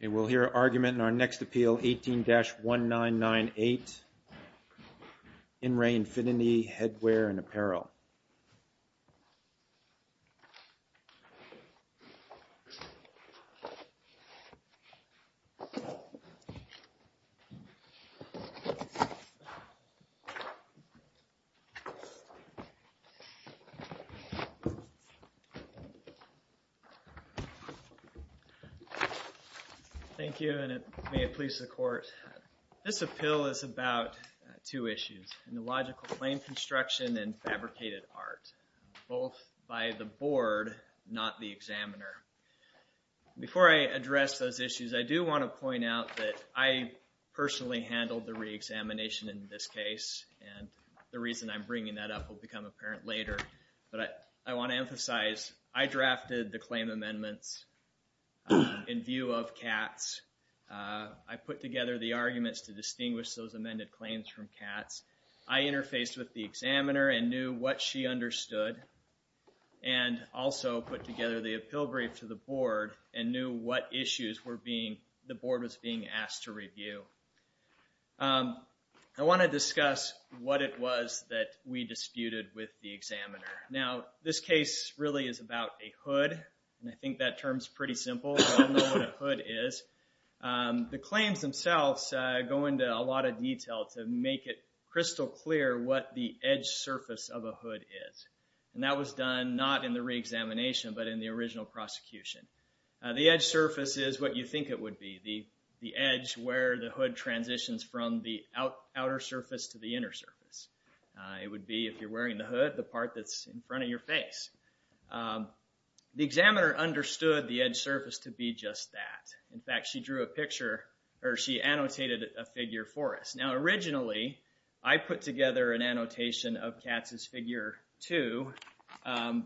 Okay, we'll hear argument in our next appeal, 18-1998. In Re Infinity Headwear & Apparel. Thank you, and may it please the court. This appeal is about two issues, illogical claim construction and fabricated art, both by the board, not the examiner. Before I address those issues, I do want to point out that I personally handled the re-examination in this case, and the reason I'm bringing that up will become apparent later. But I want to emphasize, I drafted the claim amendments in view of Katz. I put together the arguments to distinguish those amended claims from Katz. I interfaced with the examiner and knew what she understood, and also put together the appeal brief to the board and knew what issues the board was being asked to review. I want to discuss what it was that we disputed with the examiner. Now, this case really is about a hood, and I think that term's pretty simple, but I don't know what a hood is. The claims themselves go into a lot of detail to make it crystal clear what the edge surface of a hood is. And that was done not in the re-examination, but in the original prosecution. The edge surface is what you think it would be, the edge where the hood transitions from the outer surface to the inner surface. It would be, if you're wearing the hood, the part that's in front of your face. The examiner understood the edge surface to be just that. In fact, she drew a picture, or she annotated a figure for us. Now, originally, I put together an annotation of Katz's figure two,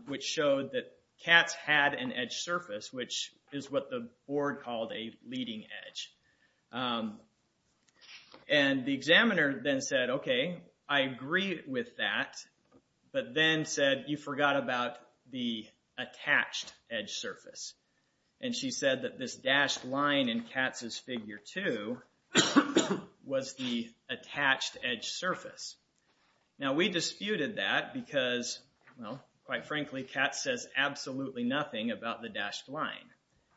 which showed that Katz had an edge surface, which is what the board called a leading edge. And the examiner then said, okay, I agree with that, but then said, you forgot about the attached edge surface. And she said that this dashed line in Katz's figure two was the attached edge surface. Now, we disputed that because, well, quite frankly, Katz says absolutely nothing about the dashed line.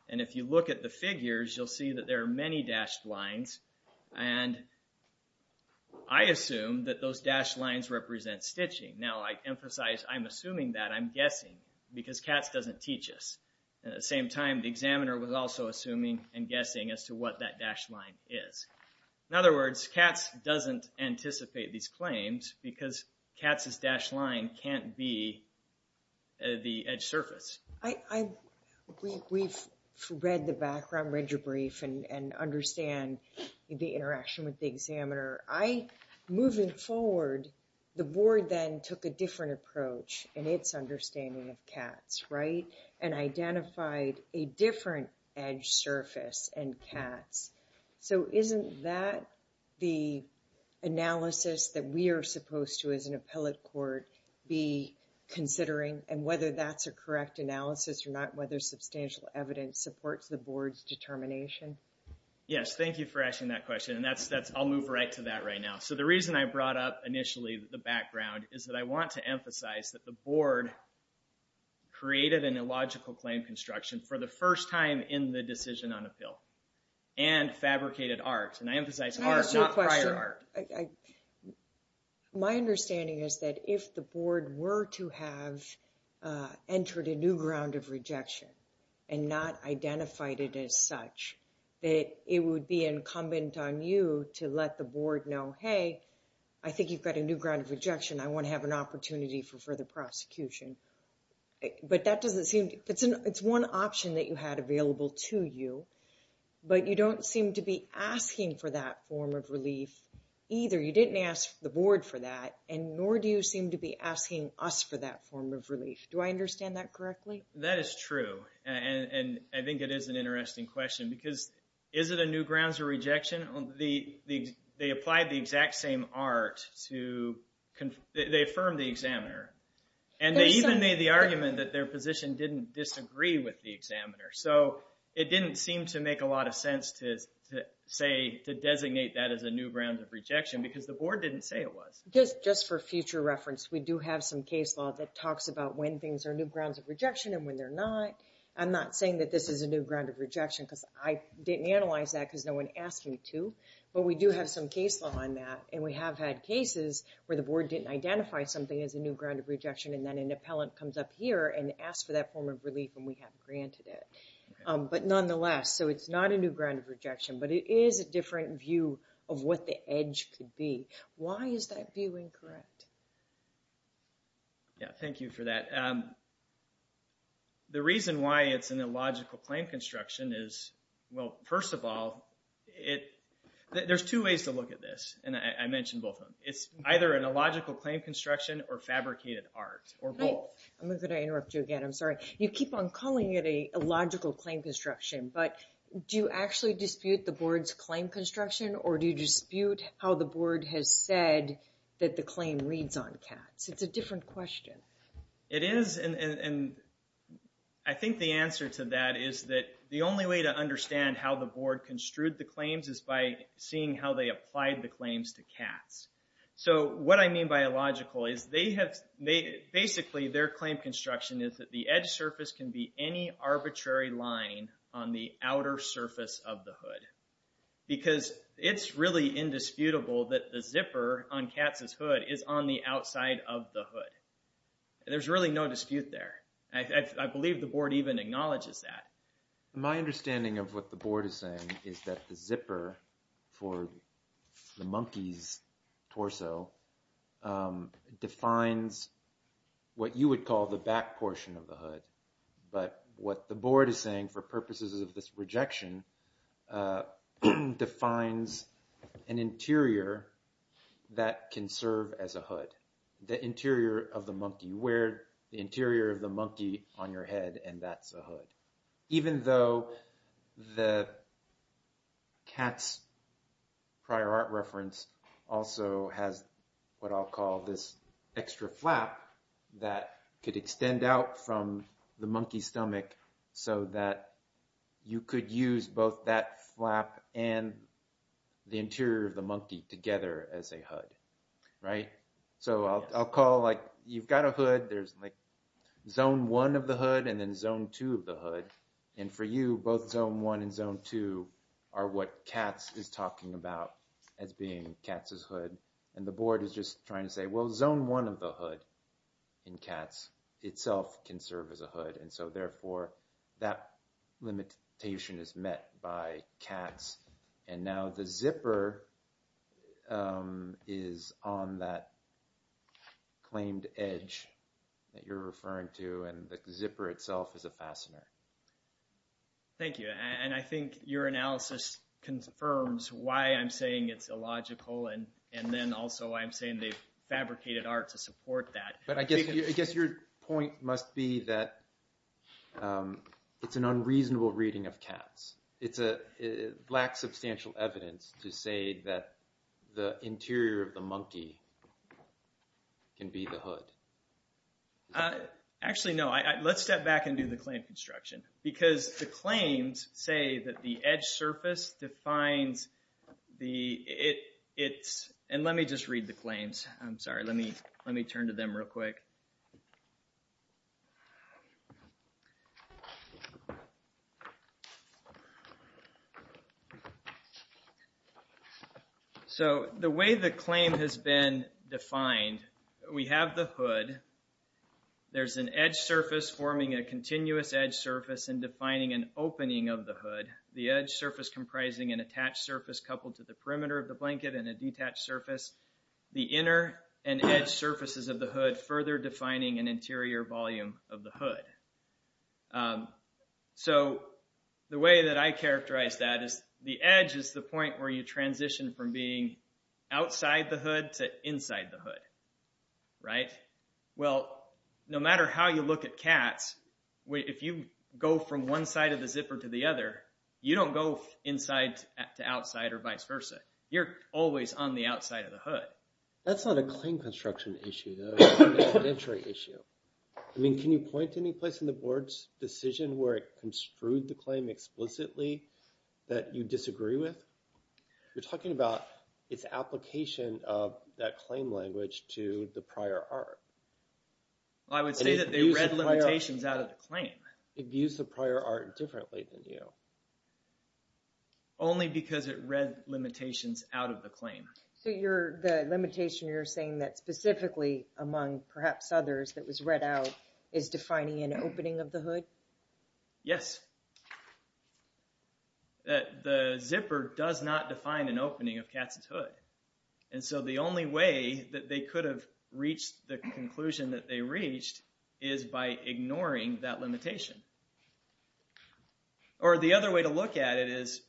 And if you look at the figures, you'll see that there are many dashed lines. And I assume that those dashed lines represent stitching. Now, I emphasize I'm assuming that, I'm guessing, because Katz doesn't teach us. At the same time, the examiner was also assuming and guessing as to what that dashed line is. In other words, Katz doesn't anticipate these claims because Katz's dashed line can't be the edge surface. I, we've read the background, read your brief, and understand the interaction with the examiner. I, moving forward, the board then took a different approach in its understanding of Katz, right? And identified a different edge surface in Katz. So isn't that the analysis that we are supposed to, as an appellate court, be considering? And whether that's a correct analysis or not whether substantial evidence supports the board's determination? Yes, thank you for asking that question. And that's, I'll move right to that right now. So the reason I brought up initially the background is that I want to emphasize that the board created an illogical claim construction for the first time in the decision on appeal. And fabricated art. And I emphasize art, not prior art. I, my understanding is that if the board were to have entered a new ground of rejection and not identified it as such, that it would be incumbent on you to let the board know, hey, I think you've got a new ground of rejection. I want to have an opportunity for further prosecution. But that doesn't seem, it's one option that you had available to you. But you don't seem to be asking for that form of relief, either, you didn't ask the board for that, and nor do you seem to be asking us for that form of relief. Do I understand that correctly? That is true. And I think it is an interesting question because is it a new grounds of rejection? The, they applied the exact same art to, they affirmed the examiner. And they even made the argument that their position didn't disagree with the examiner. So it didn't seem to make a lot of sense to say, to designate that as a new ground of rejection because the board didn't say it was. Just for future reference, we do have some case law that talks about when things are new grounds of rejection and when they're not. I'm not saying that this is a new ground of rejection because I didn't analyze that because no one asked me to. But we do have some case law on that. And we have had cases where the board didn't identify something as a new ground of rejection and then an appellant comes up here and asks for that form of relief and we have granted it. But nonetheless, so it's not a new ground of rejection but it is a different view of what the edge could be. Why is that view incorrect? Yeah, thank you for that. The reason why it's an illogical claim construction is, well, first of all, it, there's two ways to look at this. And I mentioned both of them. It's either an illogical claim construction or fabricated art, or both. I'm gonna interrupt you again, I'm sorry. You keep on calling it a illogical claim construction but do you actually dispute the board's claim construction or do you dispute how the board has said that the claim reads on cats? It's a different question. It is and I think the answer to that is that the only way to understand how the board construed the claims is by seeing how they applied the claims to cats. So what I mean by illogical is they have, basically their claim construction is that the edge surface can be any arbitrary line on the outer surface of the hood. Because it's really indisputable that the zipper on cats' hood is on the outside of the hood. There's really no dispute there. I believe the board even acknowledges that. My understanding of what the board is saying is that the zipper for the monkey's torso defines what you would call the back portion of the hood. But what the board is saying for purposes of this rejection defines an interior that can serve as a hood. The interior of the monkey, you wear the interior of the monkey on your head and that's a hood. Even though the cat's prior art reference also has what I'll call this extra flap that could extend out from the monkey's stomach so that you could use both that flap and the interior of the monkey together as a hood. So I'll call like, you've got a hood, there's like zone one of the hood and then zone two of the hood. And for you, both zone one and zone two are what cats is talking about as being cats' hood. And the board is just trying to say, well, zone one of the hood in cats itself can serve as a hood. And so therefore that limitation is met by cats. And now the zipper is on that claimed edge that you're referring to and the zipper itself is a fastener. Okay. Thank you. And I think your analysis confirms why I'm saying it's illogical and then also I'm saying they've fabricated art to support that. But I guess your point must be that it's an unreasonable reading of cats. It lacks substantial evidence to say that the interior of the monkey can be the hood. Actually, no. Let's step back and do the claim construction because the claims say that the edge surface defines the, it's, and let me just read the claims. I'm sorry, let me turn to them real quick. So the way the claim has been defined, we have the hood. There's an edge surface forming a continuous edge surface and defining an opening of the hood. The edge surface comprising an attached surface coupled to the perimeter of the blanket and a detached surface. The inner and edge surfaces of the hood further defining an interior volume of the hood. So the way that I characterize that is from being outside the hood to inside the hood. Right? Well, no matter how you look at cats, if you go from one side of the zipper to the other, you don't go inside to outside or vice versa. You're always on the outside of the hood. That's not a claim construction issue, though. It's an entry issue. I mean, can you point to any place in the board's decision where it construed the claim explicitly that you disagree with? You're talking about its application of that claim language to the prior art. I would say that they read limitations out of the claim. It views the prior art differently than you. Only because it read limitations out of the claim. So the limitation you're saying that specifically among perhaps others that was read out is defining an opening of the hood? Yes. The zipper does not define an opening of cats' hood. And so the only way that they could have reached the conclusion that they reached is by ignoring that limitation. Or the other way to look at it is,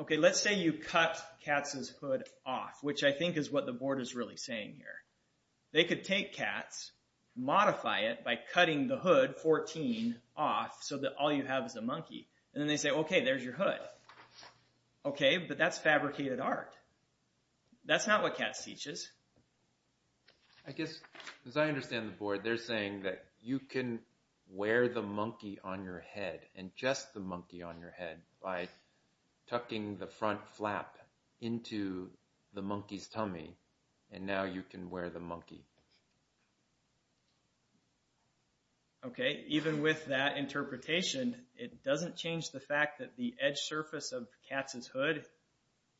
okay, let's say you cut cats' hood off, which I think is what the board is really saying here. They could take cats, modify it by cutting the hood, 14, off so that all you have is a monkey. And then they say, okay, there's your hood. Okay, but that's fabricated art. That's not what cats teaches. I guess, as I understand the board, they're saying that you can wear the monkey on your head and just the monkey on your head by tucking the front flap into the monkey's tummy. And now you can wear the monkey. Okay, even with that interpretation, it doesn't change the fact that the edge surface of cats' hood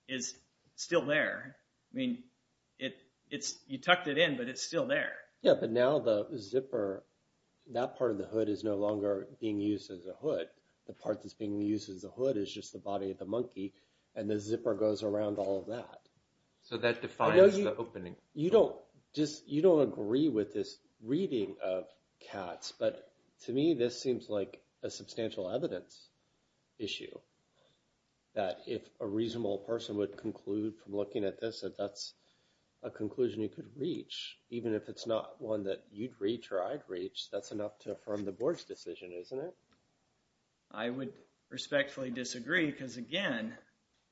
is still there. I mean, you tucked it in, but it's still there. Yeah, but now the zipper, that part of the hood is no longer being used as a hood. The part that's being used as a hood is just the body of the monkey and the zipper goes around all of that. So that defines the opening. You don't agree with this reading of cats, but to me, this seems like a substantial evidence issue that if a reasonable person would conclude from looking at this, that that's a conclusion you could reach, even if it's not one that you'd reach or I'd reach, that's enough to affirm the board's decision, isn't it? I would respectfully disagree, because again,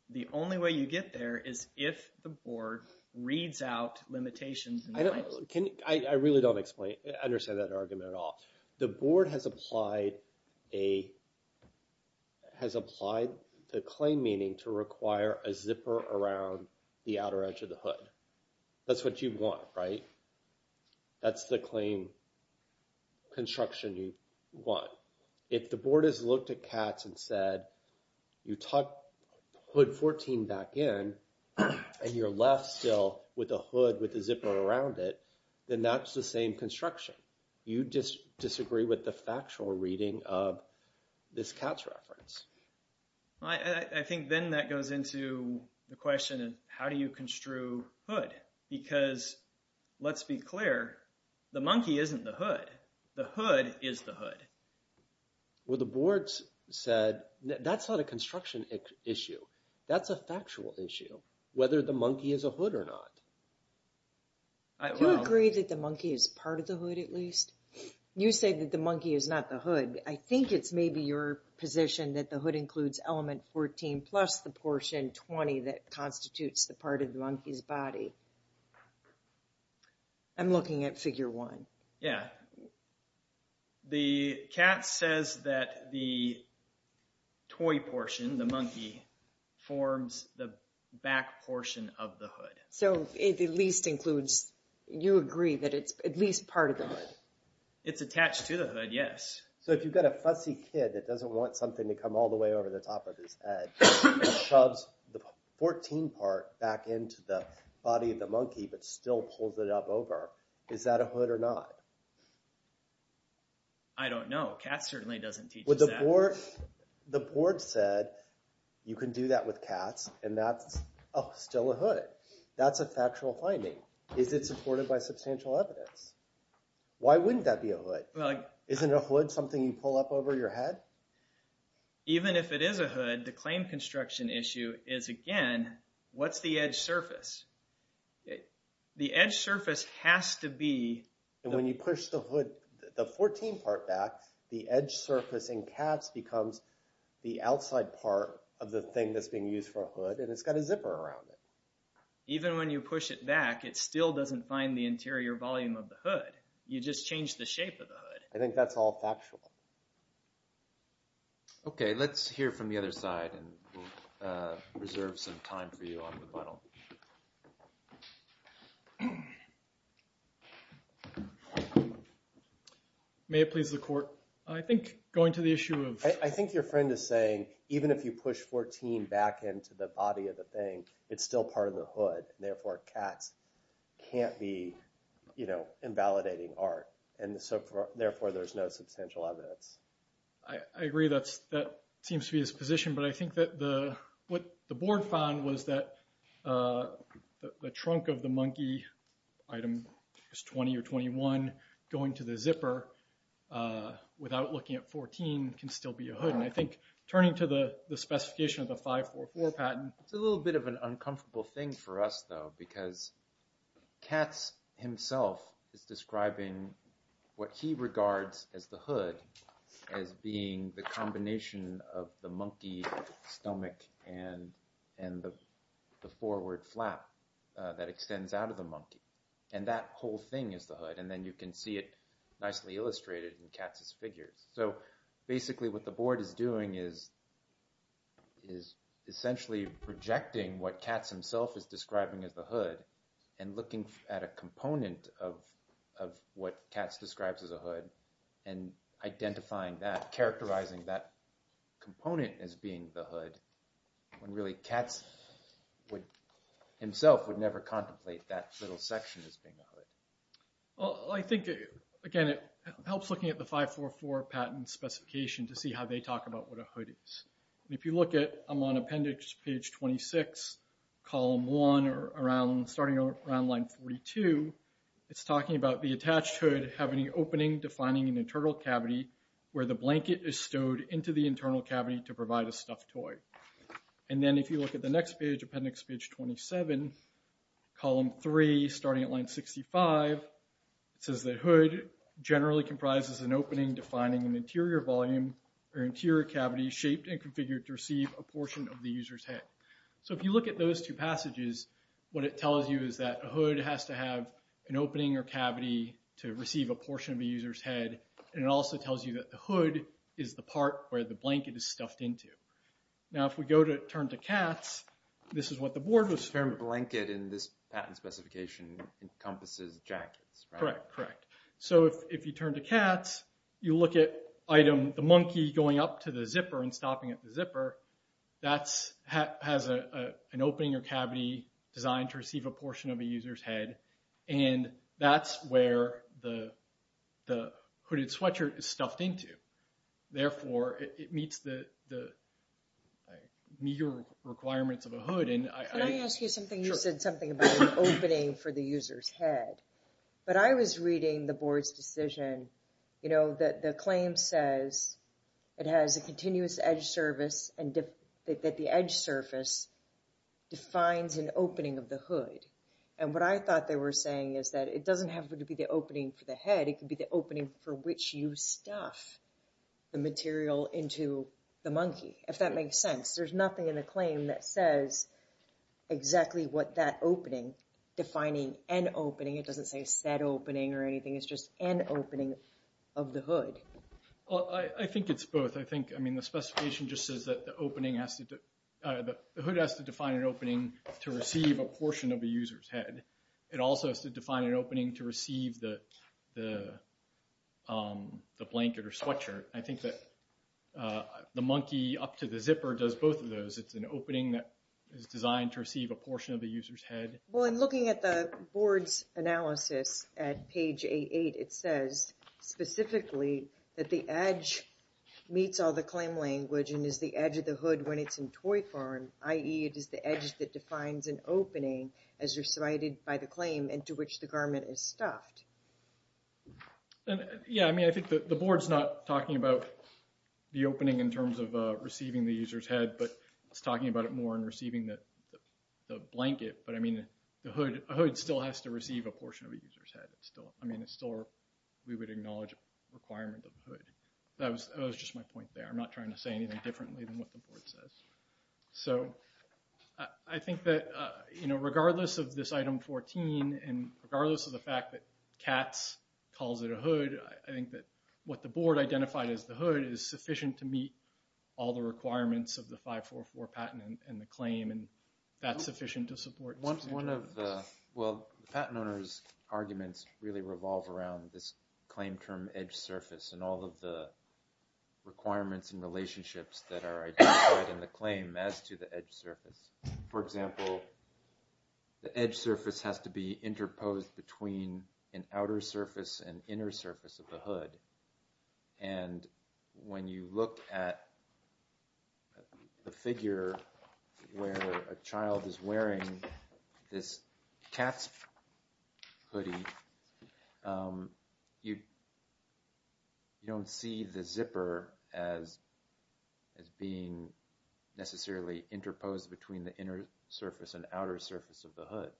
the only way you get there is if the board reads out limitations. I really don't understand that argument at all. The board has applied the claim meaning to require a zipper around the outer edge of the hood. That's what you want, right? That's the claim construction you want. If the board has looked at cats and said, you tuck hood 14 back in and you're left still with a hood with a zipper around it, then that's the same construction. You just disagree with the factual reading of this cat's reference. I think then that goes into the question of how do you construe hood? Because let's be clear, the monkey isn't the hood. The hood is the hood. Well, the board said that's not a construction issue. That's a factual issue, whether the monkey is a hood or not. Do you agree that the monkey is part of the hood at least? You said that the monkey is not the hood. I think it's maybe your position that the hood includes element 14 plus the portion 20 that constitutes the part of the monkey's body. I'm looking at figure one. Yeah. The cat says that the toy portion, the monkey, forms the back portion of the hood. So it at least includes, you agree that it's at least part of the hood? It's attached to the hood, yes. So if you've got a fussy kid that doesn't want something to come all the way over the top of his head, shoves the 14 part back into the body of the monkey but still pulls it up over, is that a hood or not? I don't know. Cat certainly doesn't teach us that. Or the board said you can do that with cats and that's still a hood. That's a factual finding. Is it supported by substantial evidence? Why wouldn't that be a hood? Isn't a hood something you pull up over your head? Even if it is a hood, the claim construction issue is again, what's the edge surface? The edge surface has to be. And when you push the hood, the 14 part back, the edge surface in cats becomes the outside part of the thing that's being used for a hood and it's got a zipper around it. Even when you push it back, it still doesn't find the interior volume of the hood. You just change the shape of the hood. I think that's all factual. Okay, let's hear from the other side and we'll reserve some time for you on rebuttal. Go ahead. May it please the court. I think going to the issue of. I think your friend is saying, even if you push 14 back into the body of the thing, it's still part of the hood. Therefore, cats can't be invalidating art. And therefore, there's no substantial evidence. I agree, that seems to be his position. But I think that what the board found was that the trunk of the monkey item is 20 or 21 going to the zipper without looking at 14 can still be a hood. And I think turning to the specification of the 544 patent. It's a little bit of an uncomfortable thing for us though, because Katz himself is describing what he regards as the hood as being the combination of the monkey stomach and the forward flap that extends out of the monkey. And that whole thing is the hood. And then you can see it nicely illustrated in Katz's figures. So basically what the board is doing is essentially projecting what Katz himself is describing as the hood and looking at a component of what Katz describes as a hood and identifying that, component as being the hood when really Katz himself would never contemplate that little section as being a hood. Well, I think again, it helps looking at the 544 patent specification to see how they talk about what a hood is. And if you look at, I'm on appendix page 26, column one, or starting around line 42, it's talking about the attached hood having an opening defining an internal cavity where the blanket is stowed into the internal cavity to provide a stuffed toy. And then if you look at the next page, appendix page 27, column three, starting at line 65, it says that hood generally comprises an opening defining an interior volume or interior cavity shaped and configured to receive a portion of the user's head. So if you look at those two passages, what it tells you is that a hood has to have an opening or cavity to receive a portion of the user's head and it also tells you that the hood is the part where the blanket is stuffed into. Now, if we go to turn to Katz, this is what the board was- The experiment blanket in this patent specification encompasses jackets, right? Correct, correct. So if you turn to Katz, you look at item, the monkey going up to the zipper and stopping at the zipper, that has an opening or cavity designed to receive a portion of a user's head. And that's where the hooded sweatshirt is stuffed into. Therefore, it meets the meager requirements of a hood. And I- Can I ask you something? Sure. You said something about an opening for the user's head. But I was reading the board's decision, you know, that the claim says it has a continuous edge surface and that the edge surface defines an opening of the hood. And what I thought they were saying is that it doesn't have to be the opening for the head, it could be the opening for which you stuff the material into the monkey, if that makes sense. There's nothing in the claim that says exactly what that opening, defining an opening, it doesn't say a set opening or anything, it's just an opening of the hood. Well, I think it's both. I think, I mean, the specification just says that the opening has to, the hood has to define an opening to receive a portion of the user's head. It also has to define an opening to receive the blanket or sweatshirt. I think that the monkey up to the zipper does both of those. It's an opening that is designed to receive a portion of the user's head. Well, in looking at the board's analysis at page 88, it says specifically that the edge meets all the claim language and is the edge of the hood when it's in toy form, i.e. it is the edge that defines an opening as recited by the claim into which the garment is stuffed. Yeah, I mean, I think the board's not talking about the opening in terms of receiving the user's head, but it's talking about it more in receiving the blanket. But I mean, the hood still has to receive a portion of the user's head. I mean, it's still, we would acknowledge a requirement of the hood. That was just my point there. I'm not trying to say anything differently than what the board says. So, I think that regardless of this item 14 and regardless of the fact that Katz calls it a hood, I think that what the board identified as the hood is sufficient to meet all the requirements of the 544 patent and the claim, and that's sufficient to support. One of the, well, the patent owner's arguments really revolve around this claim term edge surface and all of the requirements and relationships that are identified in the claim as to the edge surface. For example, the edge surface has to be interposed between an outer surface and inner surface of the hood. And when you look at the figure where a child is wearing this Katz hoodie, you don't see the zipper as being necessarily interposed between the inner surface and outer surface of the hood.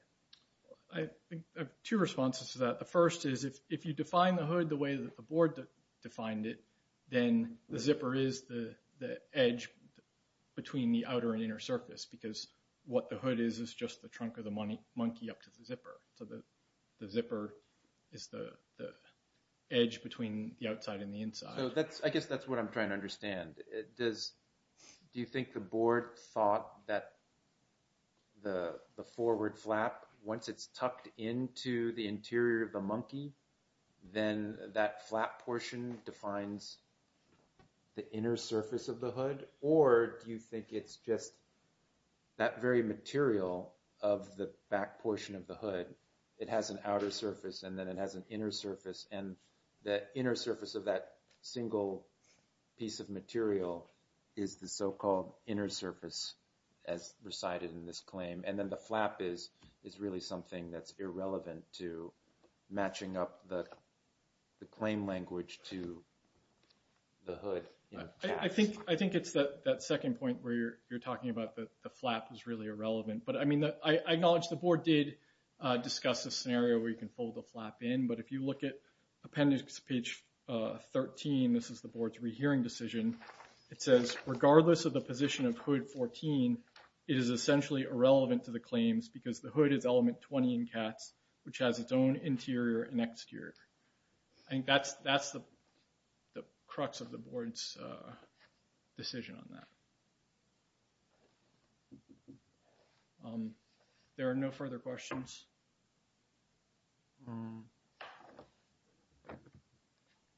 Two responses to that. The first is if you define the hood the way that the board defined it, then the zipper is the edge between the outer and inner surface because what the hood is is just the trunk of the monkey up to the zipper. So the zipper is the edge between the outside and the inside. So that's, I guess that's what I'm trying to understand. Does, do you think the board thought that the forward flap, once it's tucked into the interior of the monkey, then that flap portion defines the inner surface of the hood or do you think it's just that very material of the back portion of the hood, it has an outer surface and then it has an inner surface and the inner surface of that single piece of material is the so-called inner surface as recited in this claim. And then the flap is really something that's irrelevant to matching up the claim language to the hood. I think it's that second point where you're talking about that the flap is really irrelevant, I acknowledge the board did discuss a scenario where you can fold the flap in, but if you look at appendix page 13, this is the board's rehearing decision. It says, regardless of the position of hood 14, it is essentially irrelevant to the claims because the hood is element 20 in cats, which has its own interior and exterior. I think that's the crux of the board's decision on that. There are no further questions.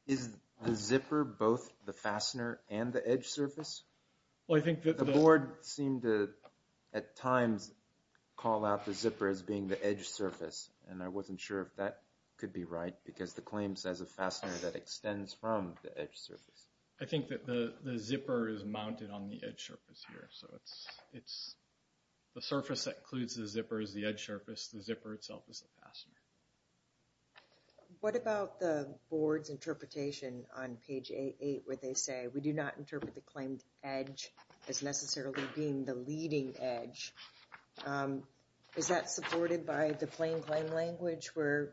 Is the zipper both the fastener and the edge surface? Well, I think that the board seemed to at times call out the zipper as being the edge surface and I wasn't sure if that could be right because the claim says a fastener that extends from the edge surface. I think that the zipper is mounted on the edge surface here. So it's the surface that includes the zipper is the edge surface, the zipper itself is the fastener. What about the board's interpretation on page 88 where they say we do not interpret the claimed edge as necessarily being the leading edge? Is that supported by the plain claim language where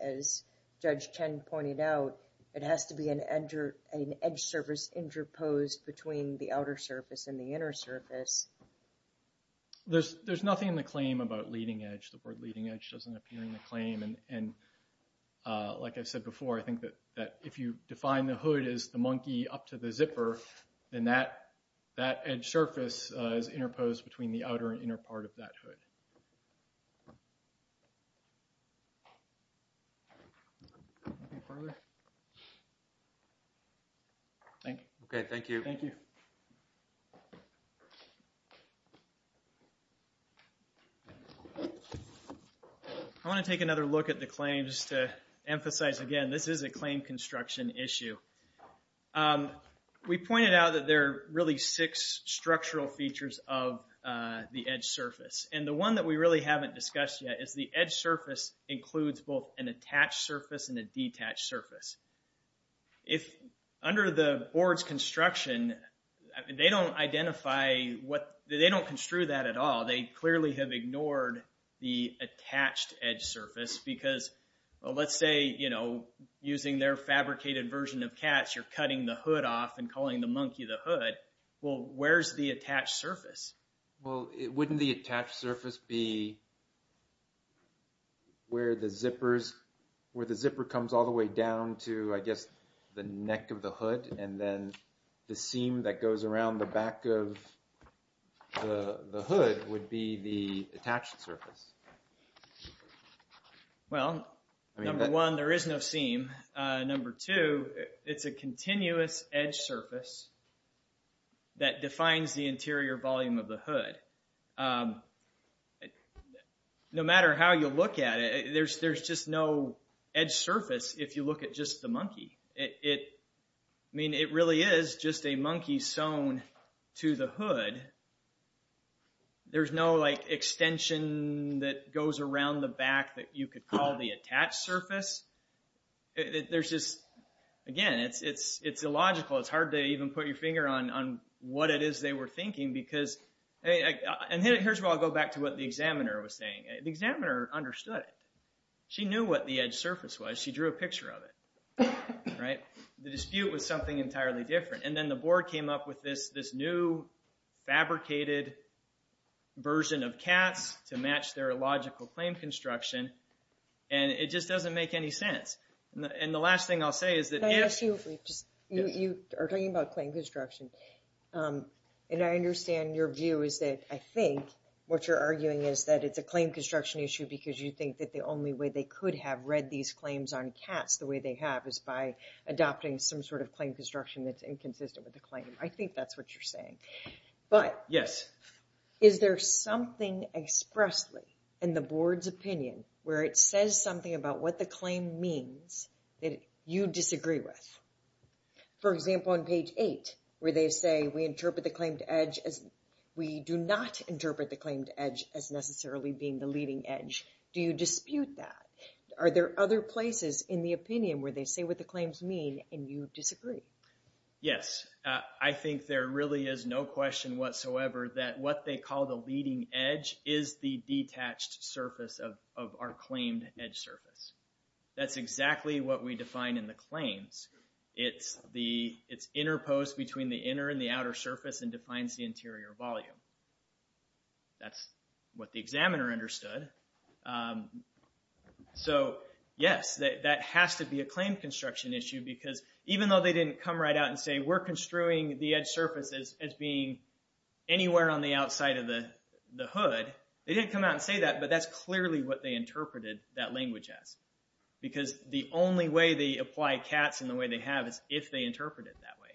as Judge Chen pointed out, it has to be an edge surface interposed between the outer surface and the inner surface? There's nothing in the claim about leading edge. The board leading edge doesn't appear in the claim. And like I said before, I think that if you define the hood as the monkey up to the zipper, then that edge surface is interposed between the outer and inner part of that hood. Thank you. Okay, thank you. Thank you. I wanna take another look at the claims to emphasize again, this is a claim construction issue. We pointed out that there are really six structural features of the edge surface. And the one that we really haven't discussed yet is the edge surface includes both an attached surface and a detached surface. If under the board's construction, they don't identify what, they don't construe that at all. They clearly have ignored the attached edge surface because let's say, using their fabricated version of cats, you're cutting the hood off and calling the monkey the hood. Well, where's the attached surface? Well, wouldn't the attached surface be where the zipper comes all the way down to I guess, the neck of the hood and then the seam that goes around the back of the hood would be the attached surface. Well, number one, there is no seam. Number two, it's a continuous edge surface that defines the interior volume of the hood. No matter how you look at it, there's just no edge surface if you look at just the monkey. I mean, it really is just a monkey sewn to the hood. There's no extension that goes around the back that you could call the attached surface. Again, it's illogical. It's hard to even put your finger on what it is they were thinking because, and here's where I'll go back to what the examiner was saying. The examiner understood it. She knew what the edge surface was. She drew a picture of it, right? The dispute was something entirely different. And then the board came up with this new fabricated version of CATS to match their illogical claim construction and it just doesn't make any sense. And the last thing I'll say is that if- I ask you, you are talking about claim construction and I understand your view is that I think what you're arguing is that it's a claim construction issue because you think that the only way they could have read these claims on CATS the way they have is by adopting some sort of claim construction that's inconsistent with the claim. I think that's what you're saying. But- Yes. Is there something expressly in the board's opinion where it says something about what the claim means that you disagree with? For example, on page eight where they say we interpret the claim to edge as- We do not interpret the claim to edge as necessarily being the leading edge. Do you dispute that? Are there other places in the opinion where they say what the claims mean and you disagree? Yes. I think there really is no question whatsoever that what they call the leading edge is the detached surface of our claimed edge surface. That's exactly what we define in the claims. It's the- It's interposed between the inner and the outer surface and defines the interior volume. That's what the examiner understood. So, yes, that has to be a claim construction issue because even though they didn't come right out and say we're construing the edge surfaces as being anywhere on the outside of the hood, they didn't come out and say that, but that's clearly what they interpreted that language as. Because the only way they apply CATS in the way they have is if they interpret it that way.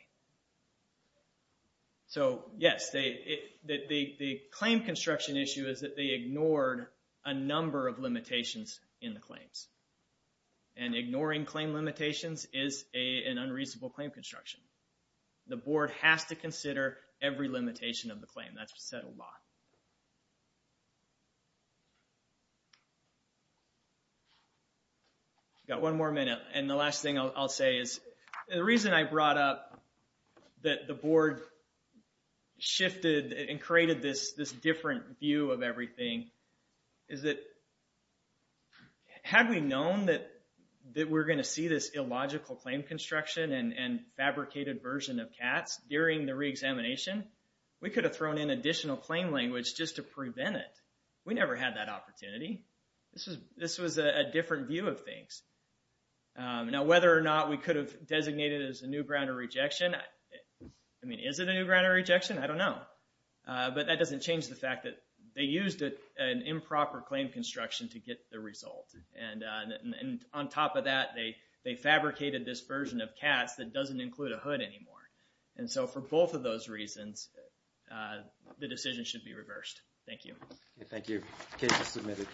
So, yes, the claim construction issue is that they ignored a number of limitations in the claims. And ignoring claim limitations is an unreasonable claim construction. The board has to consider every limitation of the claim. That's a settled law. Got one more minute. And the last thing I'll say is, the reason I brought up that the board shifted and created this different view of everything is that had we known that we're gonna see this illogical claim construction and fabricated version of CATS during the reexamination, we could have thrown in additional claim language just to prevent it. We never had that opportunity. This was a different view of things. Now, whether or not we could have designated it as a new ground of rejection, I mean, is it a new ground of rejection? I don't know. But that doesn't change the fact that they used an improper claim construction to get the result. And on top of that, they fabricated this version of CATS that doesn't include a hood anymore. And so for both of those reasons, the decision should be reversed. Thank you. Thank you. Case is submitted.